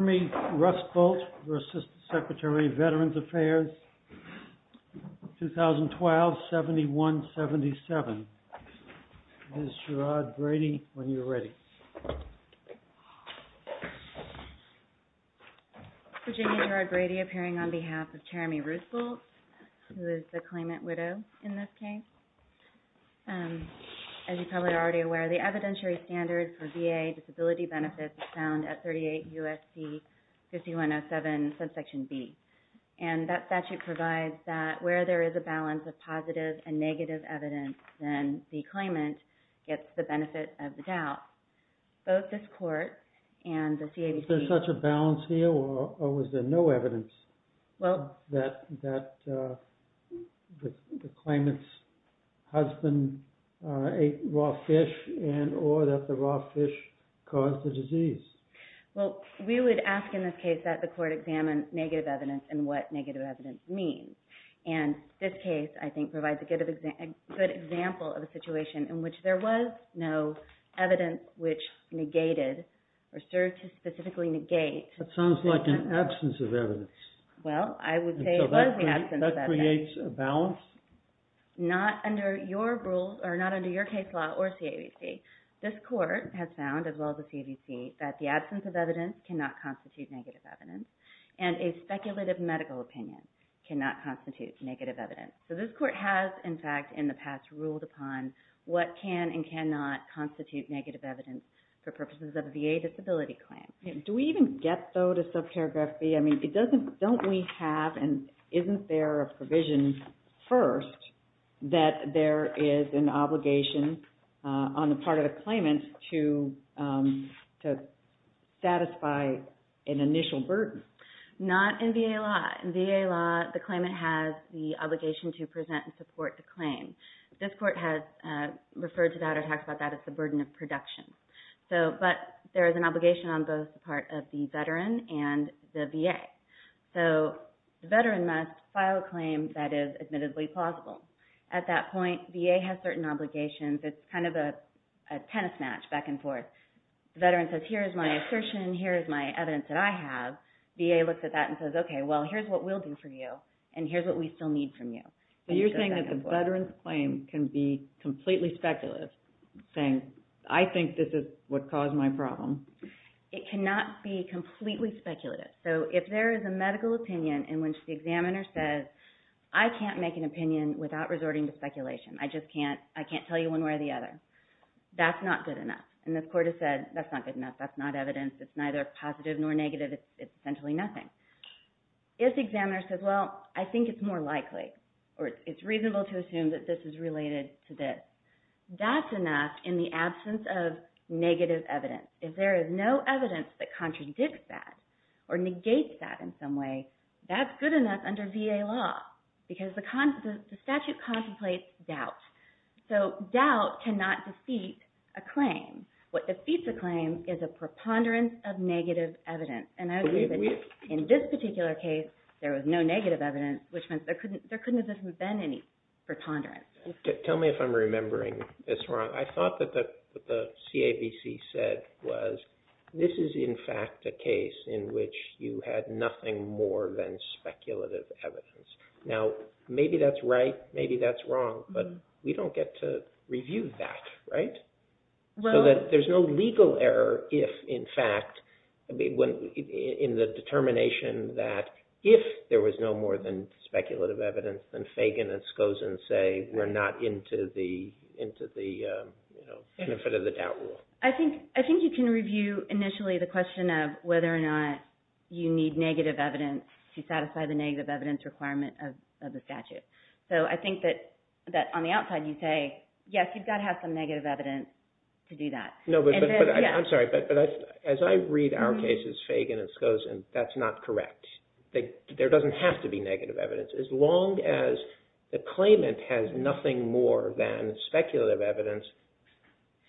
RUSBULDT, ASSISTANT SECRETARY, VETERANS AFFAIRS, 2012-7177. It is Gerard Brady, when you're ready. Virginia Gerard Brady, appearing on behalf of Cheramy Rusbuldt, who is the claimant widow in this case. As you're probably already aware, the evidentiary standard for VA disability benefits is found at 38 U.S.C. 5107, subsection B. And that statute provides that where there is a balance of positive and negative evidence, then the claimant gets the benefit of the doubt. Both this court and the CABC... Is there such a balance here, or was there no evidence that the claimant's husband ate raw fish and or that the raw fish caused the disease? Well, we would ask in this case that the court examine negative evidence and what negative evidence means. And this case, I think, provides a good example of a situation in which there was no evidence which negated or served to specifically negate... That sounds like an absence of evidence. Well, I would say it was an absence of evidence. And so that creates a balance? Not under your case law or CABC. This court has found, as well as the CABC, that the absence of evidence cannot constitute negative evidence. And a speculative medical opinion cannot constitute negative evidence. So this court has, in fact, in the past, ruled upon what can and cannot constitute negative evidence for purposes of a VA disability claim. Do we even get, though, to sub-paragraph B? I mean, don't we have, and isn't there a provision first that there is an obligation on the part of the claimant to satisfy an initial burden? Not in VA law. In VA law, the claimant has the obligation to present and support the claim. This court has referred to that or talked about that as the burden of production. But there is an obligation on both the part of the veteran and the VA. So the veteran must file a claim that is admittedly plausible. At that point, VA has certain obligations. It's kind of a tennis match back and forth. The veteran says, here is my assertion. Here is my evidence that I have. VA looks at that and says, okay, well, here's what we'll do for you. And here's what we still need from you. So you're saying that the veteran's claim can be completely speculative, saying, I think this is what caused my problem. It cannot be completely speculative. So if there is a medical opinion in which the examiner says, I can't make an opinion without resorting to speculation. I just can't tell you one way or the other. That's not good enough. And the court has said, that's not good enough. That's not evidence. It's neither positive nor negative. It's essentially nothing. If the examiner says, well, I think it's more likely, or it's reasonable to assume that this is related to this, that's enough in the absence of negative evidence. If there is no evidence that contradicts that or negates that in some way, that's good enough under VA law because the statute contemplates doubt. So doubt cannot defeat a claim. What defeats a claim is a preponderance of negative evidence. In this particular case, there was no negative evidence, which means there couldn't have been any preponderance. Tell me if I'm remembering this wrong. I thought that what the CABC said was, this is in fact a case in which you had nothing more than speculative evidence. Now, maybe that's right. Maybe that's wrong. But we don't get to review that, right? So that there's no legal error if, in fact, in the determination that if there was no more than speculative evidence, then Fagan and Skozen say we're not into the benefit of the doubt rule. I think you can review initially the question of whether or not you need negative evidence to satisfy the negative evidence requirement of the statute. So I think that on the outside you say, yes, you've got to have some negative evidence to do that. I'm sorry, but as I read our cases, Fagan and Skozen, that's not correct. There doesn't have to be negative evidence. As long as the claimant has nothing more than speculative evidence,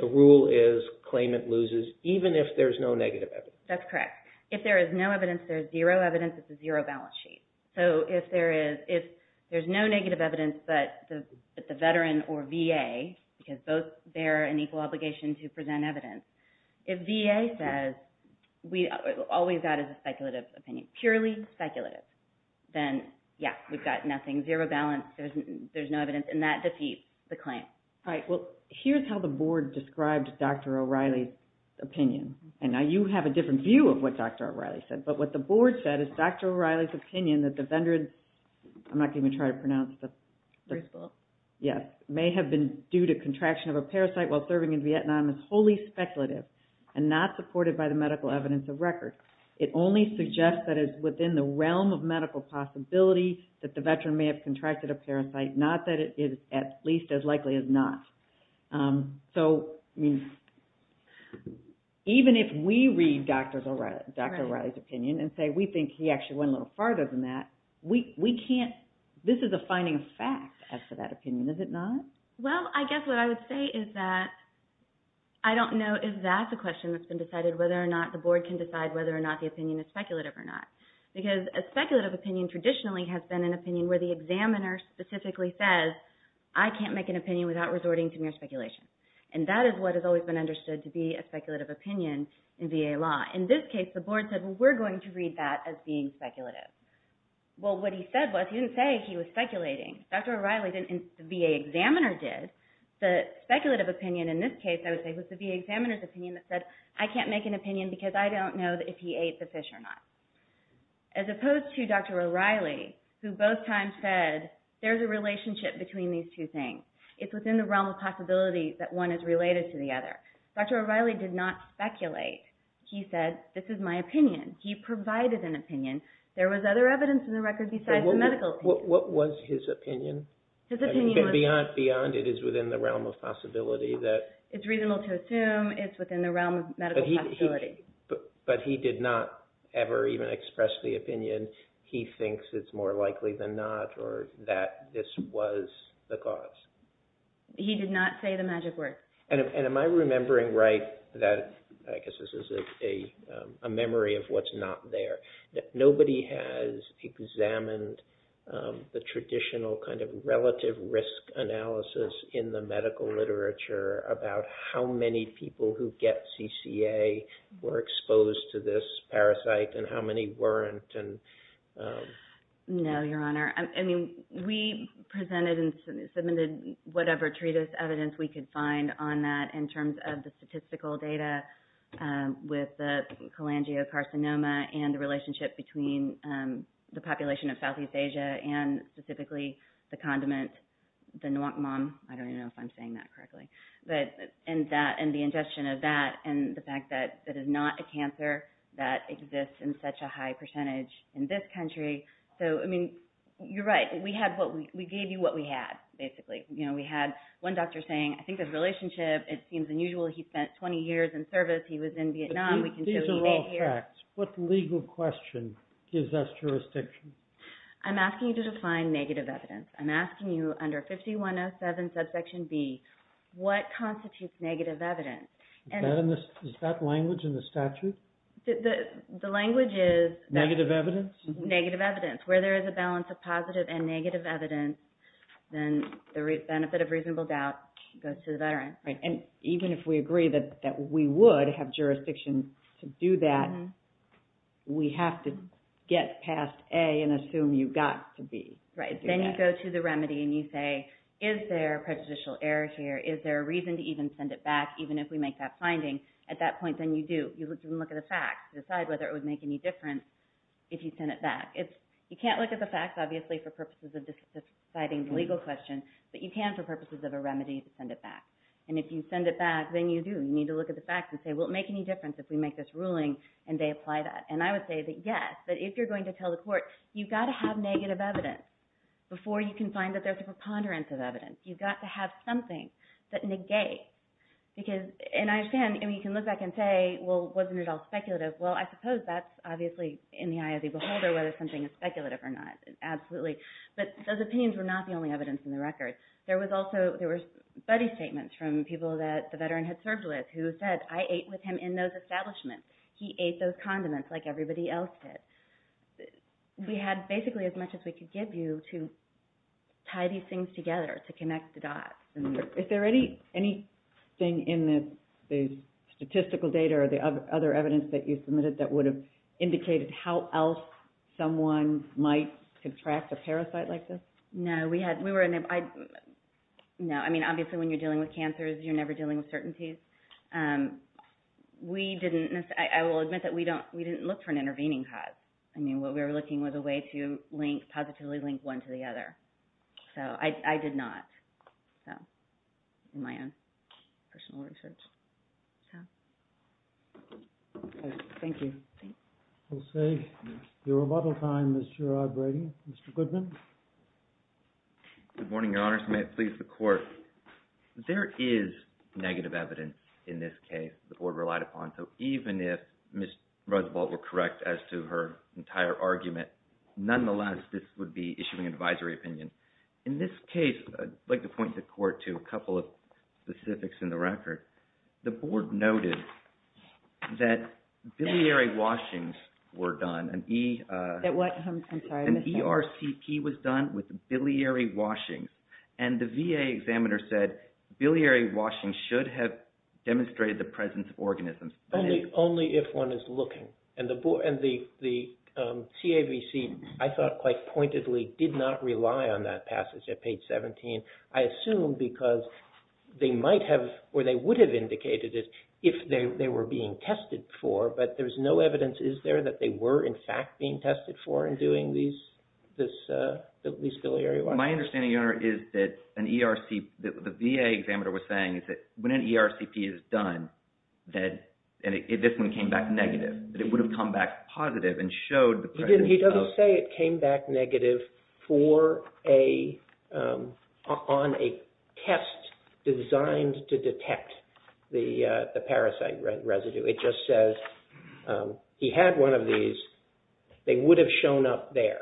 the rule is claimant loses even if there's no negative evidence. That's correct. If there is no evidence, there's zero evidence. It's a zero balance sheet. So if there's no negative evidence, but the veteran or VA, because both bear an equal obligation to present evidence, if VA says all we've got is a speculative opinion, purely speculative, then, yeah, we've got nothing, zero balance, there's no evidence, and that defeats the claim. All right, well, here's how the Board described Dr. O'Reilly's opinion. And now you have a different view of what Dr. O'Reilly said. But what the Board said is Dr. O'Reilly's opinion that the veterans – I'm not going to even try to pronounce it. Yes. May have been due to contraction of a parasite while serving in Vietnam is wholly speculative and not supported by the medical evidence of record. It only suggests that it's within the realm of medical possibility that the veteran may have contracted a parasite, not that it is at least as likely as not. So, I mean, even if we read Dr. O'Reilly's opinion and say we think he actually went a little farther than that, we can't – this is a finding of fact as to that opinion, is it not? Well, I guess what I would say is that I don't know if that's a question that's been decided whether or not the Board can decide whether or not the opinion is speculative or not. Because a speculative opinion traditionally has been an opinion where the examiner specifically says, I can't make an opinion without resorting to mere speculation. And that is what has always been understood to be a speculative opinion in VA law. In this case, the Board said, well, we're going to read that as being speculative. Well, what he said was – he didn't say he was speculating. Dr. O'Reilly didn't – the VA examiner did. The speculative opinion in this case, I would say, was the VA examiner's opinion that said, I can't make an opinion because I don't know if he ate the fish or not. As opposed to Dr. O'Reilly, who both times said, there's a relationship between these two things. It's within the realm of possibility that one is related to the other. Dr. O'Reilly did not speculate. He said, this is my opinion. He provided an opinion. There was other evidence in the record besides the medical opinion. What was his opinion? His opinion was – Beyond it is within the realm of possibility that – It's reasonable to assume it's within the realm of medical possibility. But he did not ever even express the opinion he thinks it's more likely than not or that this was the cause. He did not say the magic word. Am I remembering right that – I guess this is a memory of what's not there. Nobody has examined the traditional kind of relative risk analysis in the medical literature about how many people who get CCA were exposed to this parasite and how many weren't. No, Your Honor. We presented and submitted whatever treatise evidence we could find on that in terms of the statistical data with the cholangiocarcinoma and the relationship between the population of Southeast Asia and specifically the condiment, the nuocmam. I don't even know if I'm saying that correctly. And the ingestion of that and the fact that it is not a cancer that exists in such a high percentage in this country. So, I mean, you're right. We gave you what we had, basically. We had one doctor saying, I think the relationship, it seems unusual. He spent 20 years in service. He was in Vietnam. These are all facts. What legal question gives us jurisdiction? I'm asking you to define negative evidence. I'm asking you under 5107, subsection B, what constitutes negative evidence? Is that language in the statute? The language is that… Negative evidence? Negative evidence. Where there is a balance of positive and negative evidence, then the benefit of reasonable doubt goes to the veteran. Right. And even if we agree that we would have jurisdiction to do that, we have to get past A and assume you got to B. Right. Then you go to the remedy and you say, is there prejudicial error here? Is there a reason to even send it back, even if we make that finding? At that point, then you do. You look at the facts to decide whether it would make any difference if you send it back. You can't look at the facts, obviously, for purposes of deciding the legal question, but you can for purposes of a remedy to send it back. And if you send it back, then you do. You need to look at the facts and say, will it make any difference if we make this ruling and they apply that? And I would say that, yes, but if you're going to tell the court, you've got to have negative evidence before you can find that there's a preponderance of evidence. You've got to have something that negates. And I understand, you can look back and say, well, wasn't it all speculative? Well, I suppose that's obviously in the eye of the beholder, whether something is speculative or not, absolutely. But those opinions were not the only evidence in the record. There were buddy statements from people that the veteran had served with who said, I ate with him in those establishments. He ate those condiments like everybody else did. We had basically as much as we could give you to tie these things together, to connect the dots. Is there anything in the statistical data or the other evidence that you submitted that would have indicated how else someone might contract a parasite like this? No. I mean, obviously when you're dealing with cancers, you're never dealing with certainties. I will admit that we didn't look for an intervening cause. I mean, what we were looking was a way to positively link one to the other. So I did not, in my own personal research. Thank you. We'll save your rebuttal time, Ms. Sherrod Brady. Mr. Goodman. Good morning, Your Honors. May it please the Court. There is negative evidence in this case the Board relied upon. So even if Ms. Roosevelt were correct as to her entire argument, nonetheless, this would be issuing an advisory opinion. In this case, I'd like to point the Court to a couple of specifics in the record. The Board noted that biliary washings were done. An ERCP was done with biliary washings. And the VA examiner said, biliary washings should have demonstrated the presence of organisms. Only if one is looking. And the CAVC, I thought quite pointedly, did not rely on that passage at page 17. I assume because they might have or they would have indicated it if they were being tested for, but there's no evidence, is there, that they were in fact being tested for in doing this biliary washing. My understanding, Your Honor, is that the VA examiner was saying that when an ERCP is done, and this one came back negative, that it would have come back positive and showed the presence of... He doesn't say it came back negative on a test designed to detect the parasite residue. It just says he had one of these. They would have shown up there.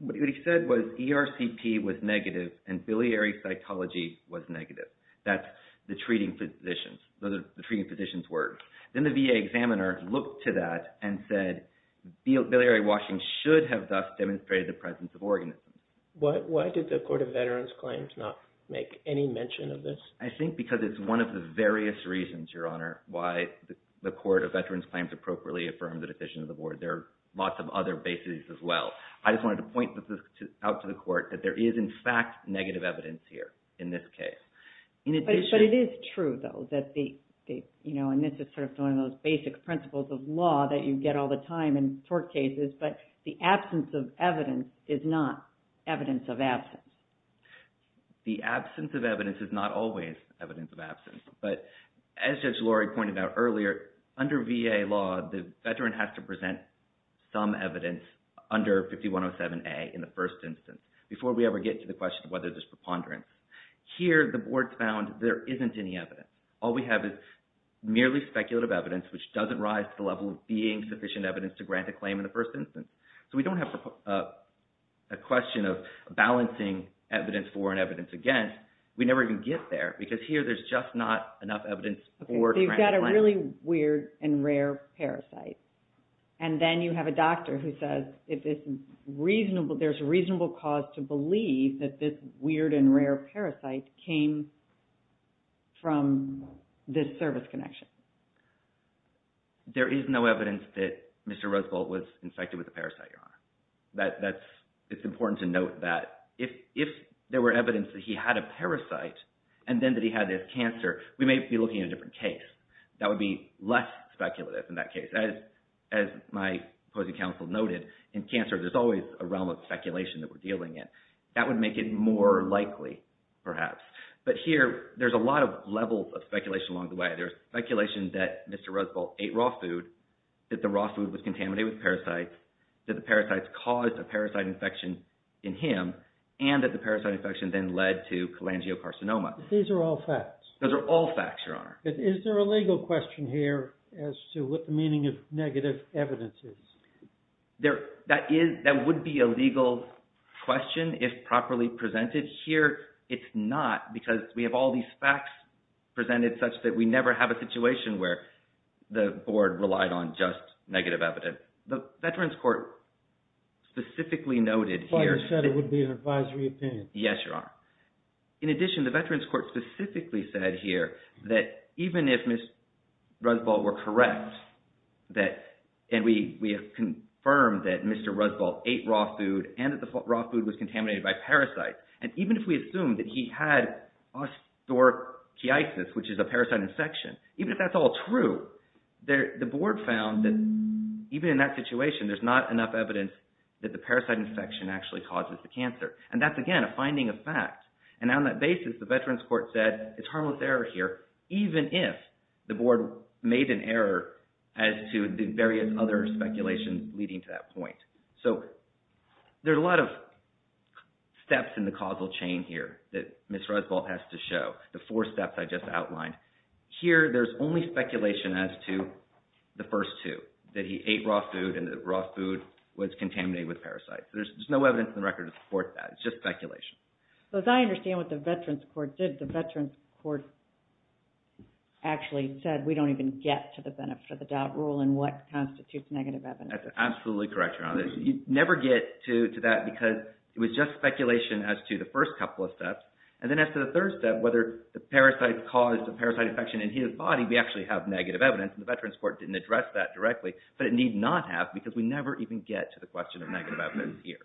What he said was ERCP was negative and biliary cytology was negative. That's the treating physician's words. Then the VA examiner looked to that and said, biliary washing should have thus demonstrated the presence of organisms. Why did the Court of Veterans Claims not make any mention of this? I think because it's one of the various reasons, Your Honor, why the Court of Veterans Claims appropriately affirmed the decision of the Board. There are lots of other bases as well. I just wanted to point this out to the Court that there is in fact negative evidence here in this case. But it is true, though, that the... And this is one of those basic principles of law that you get all the time in tort cases, but the absence of evidence is not evidence of absence. The absence of evidence is not always evidence of absence. But as Judge Lori pointed out earlier, under VA law, the veteran has to present some evidence under 5107A in the first instance before we ever get to the question of whether there's preponderance. Here, the Board found there isn't any evidence. All we have is merely speculative evidence, which doesn't rise to the level of being sufficient evidence to grant a claim in the first instance. So we don't have a question of balancing evidence for and evidence against. We never even get there, because here there's just not enough evidence... You've got a really weird and rare parasite. And then you have a doctor who says there's reasonable cause to believe that this weird and rare parasite came from this service connection. There is no evidence that Mr. Roosevelt was infected with a parasite, Your Honor. That's... It's important to note that if there were evidence that he had a parasite and then that he had this cancer, we may be looking at a different case. That would be less speculative in that case. As my opposing counsel noted, in cancer there's always a realm of speculation that we're dealing in. That would make it more likely, perhaps. But here, there's a lot of levels of speculation along the way. There's speculation that Mr. Roosevelt ate raw food, that the raw food was contaminated with parasites, that the parasites caused a parasite infection in him, and that the parasite infection then led to cholangiocarcinoma. These are all facts. Those are all facts, Your Honor. Is there a legal question here as to what the meaning of negative evidence is? That would be a legal question if properly presented. Here, it's not because we have all these facts presented such that we never have a situation where the Board relied on just negative evidence. The Veterans Court specifically noted here... Why they said it would be an advisory opinion. Yes, Your Honor. In addition, the Veterans Court specifically said here that even if Mr. Roosevelt were correct, and we have confirmed that Mr. Roosevelt ate raw food and that the raw food was contaminated by parasites, and even if we assume that he had osteoarthritis, which is a parasite infection, even if that's all true, the Board found that even in that situation, there's not enough evidence that the parasite infection actually causes the cancer. And that's, again, a finding of fact. And on that basis, the Veterans Court said, it's harmless error here, even if the Board made an error as to the various other speculations leading to that point. So there's a lot of steps in the causal chain here that Ms. Roosevelt has to show, the four steps I just outlined. Here, there's only speculation as to the first two, that he ate raw food and the raw food was contaminated with parasites. There's no evidence in the record to support that. It's just speculation. As I understand what the Veterans Court did, the Veterans Court actually said, we don't even get to the benefit of the doubt rule and what constitutes negative evidence. That's absolutely correct, Your Honor. You never get to that because it was just speculation as to the first couple of steps. And then as to the third step, whether the parasite caused the parasite infection in his body, we actually have negative evidence, and the Veterans Court didn't address that directly, but it need not have because we never even get to the question of negative evidence here.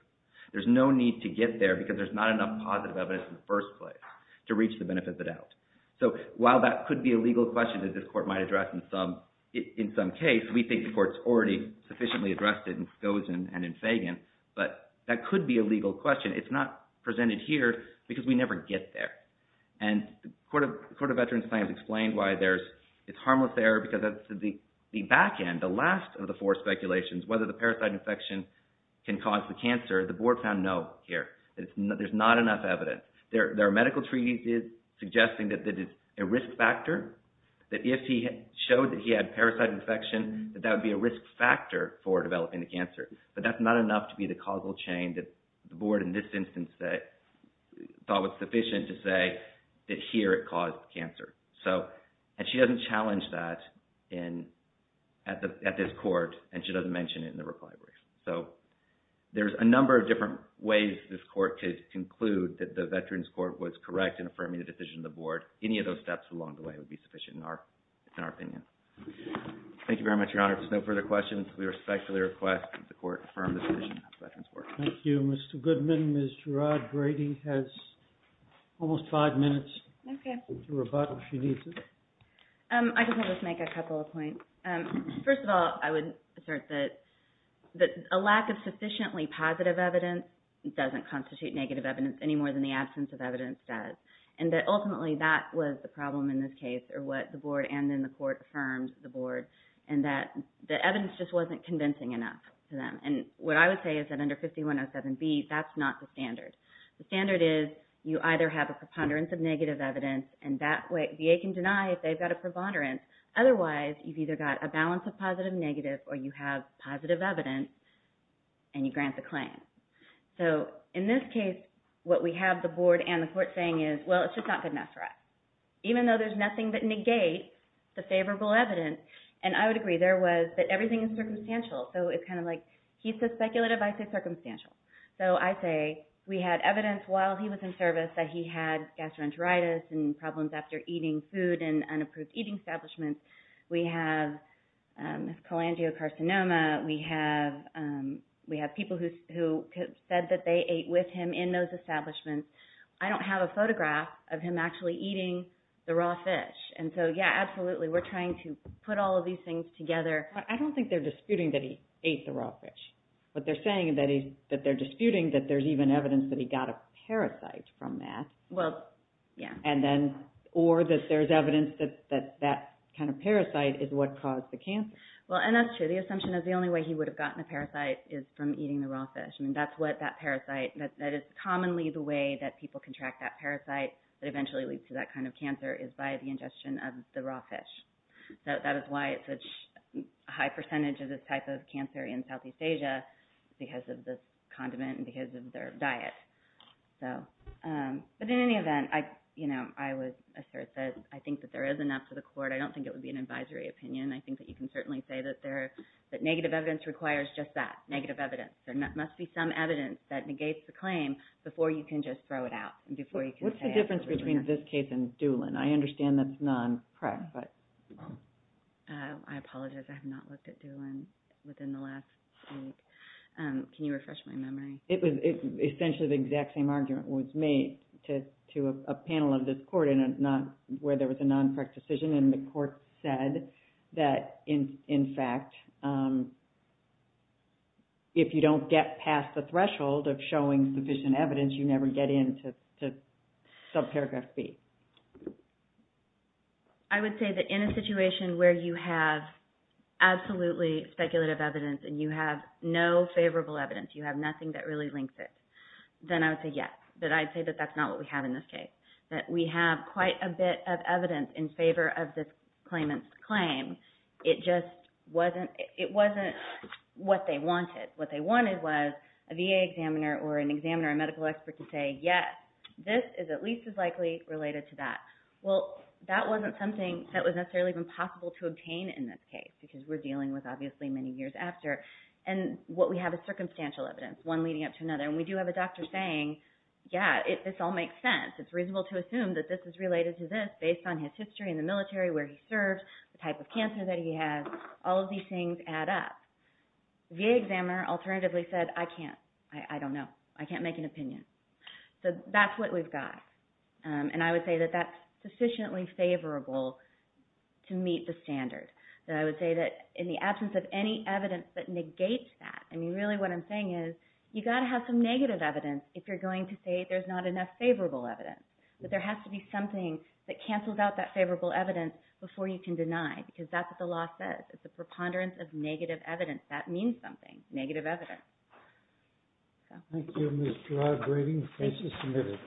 There's no need to get there because there's not enough positive evidence in the first place to reach the benefit of the doubt. So while that could be a legal question that this court might address in some case, we think the court's already sufficiently addressed it in Skosen and in Fagan, but that could be a legal question. It's not presented here because we never get there. And the Court of Veterans Claims explained why there's this harmless error because the back end, the last of the four speculations, whether the parasite infection can cause the cancer, the board found no here. There's not enough evidence. There are medical treaties suggesting that it's a risk factor, that if he showed that he had parasite infection, that that would be a risk factor for developing the cancer, but that's not enough to be the causal chain that the board in this instance thought was sufficient to say that here it caused cancer. And she doesn't challenge that at this court, and she doesn't mention it in the reply brief. So there's a number of different ways this court could conclude that the Veterans Court was correct in affirming the decision of the board. Any of those steps along the way would be sufficient in our opinion. Thank you very much, Your Honor. If there's no further questions, we respectfully request that the court affirm the decision of the Veterans Court. Thank you, Mr. Goodman. Ms. Gerard-Grady has almost five minutes. Okay. If she needs it. I just want to make a couple of points. First of all, I would assert that a lack of sufficiently positive evidence doesn't constitute negative evidence any more than the absence of evidence does, and that ultimately that was the problem in this case or what the board and then the court affirmed the board, and that the evidence just wasn't convincing enough to them. And what I would say is that under 5107B, that's not the standard. The standard is you either have a preponderance of negative evidence, and that way VA can deny if they've got a preponderance. Otherwise, you've either got a balance of positive and negative, or you have positive evidence and you grant the claim. So in this case, what we have the board and the court saying is, well, it's just not good enough for us. Even though there's nothing that negates the favorable evidence, and I would agree that everything is circumstantial. So it's kind of like he said speculative, I say circumstantial. So I say we had evidence while he was in service that he had gastroenteritis and problems after eating food and unapproved eating establishments. We have cholangiocarcinoma. We have people who said that they ate with him in those establishments. I don't have a photograph of him actually eating the raw fish. And so, yeah, absolutely, we're trying to put all of these things together. But I don't think they're disputing that he ate the raw fish. What they're saying is that they're disputing that there's even evidence that he got a parasite from that. Well, yeah. Or that there's evidence that that kind of parasite is what caused the cancer. Well, and that's true. The assumption is the only way he would have gotten the parasite is from eating the raw fish. That is commonly the way that people can track that parasite that eventually leads to that kind of cancer is by the ingestion of the raw fish. So that is why it's such a high percentage of this type of cancer in Southeast Asia because of the condiment and because of their diet. But in any event, I would assert that I think that there is enough to the court. I don't think it would be an advisory opinion. I think that you can certainly say that negative evidence requires just that, negative evidence. There must be some evidence that negates the claim before you can just throw it out. What's the difference between this case and Doolin? I understand that's non-PREC. I apologize. I have not looked at Doolin within the last week. Can you refresh my memory? Essentially the exact same argument was made to a panel of this court where there was a non-PREC decision. And the court said that, in fact, if you don't get past the threshold of showing sufficient evidence, you never get into subparagraph B. I would say that in a situation where you have absolutely speculative evidence and you have no favorable evidence, you have nothing that really links it, then I would say yes. But I'd say that that's not what we have in this case, that we have quite a bit of evidence in favor of this claimant's claim. It just wasn't what they wanted. What they wanted was a VA examiner or an examiner, a medical expert, to say, yes, this is at least as likely related to that. Well, that wasn't something that was necessarily even possible to obtain in this case because we're dealing with, obviously, many years after. And what we have is circumstantial evidence, one leading up to another. And we do have a doctor saying, yeah, this all makes sense. It's reasonable to assume that this is related to this based on his history in the military, where he served, the type of cancer that he had. All of these things add up. The VA examiner alternatively said, I can't. I don't know. I can't make an opinion. So that's what we've got. And I would say that that's sufficiently favorable to meet the standard. I would say that in the absence of any evidence that negates that, I mean, really what I'm saying is you've got to have some negative evidence if you're going to say there's not enough favorable evidence. But there has to be something that cancels out that favorable evidence before you can deny it because that's what the law says. It's a preponderance of negative evidence. That means something, negative evidence. Thank you, Ms. Gerard-Brady. The case is submitted.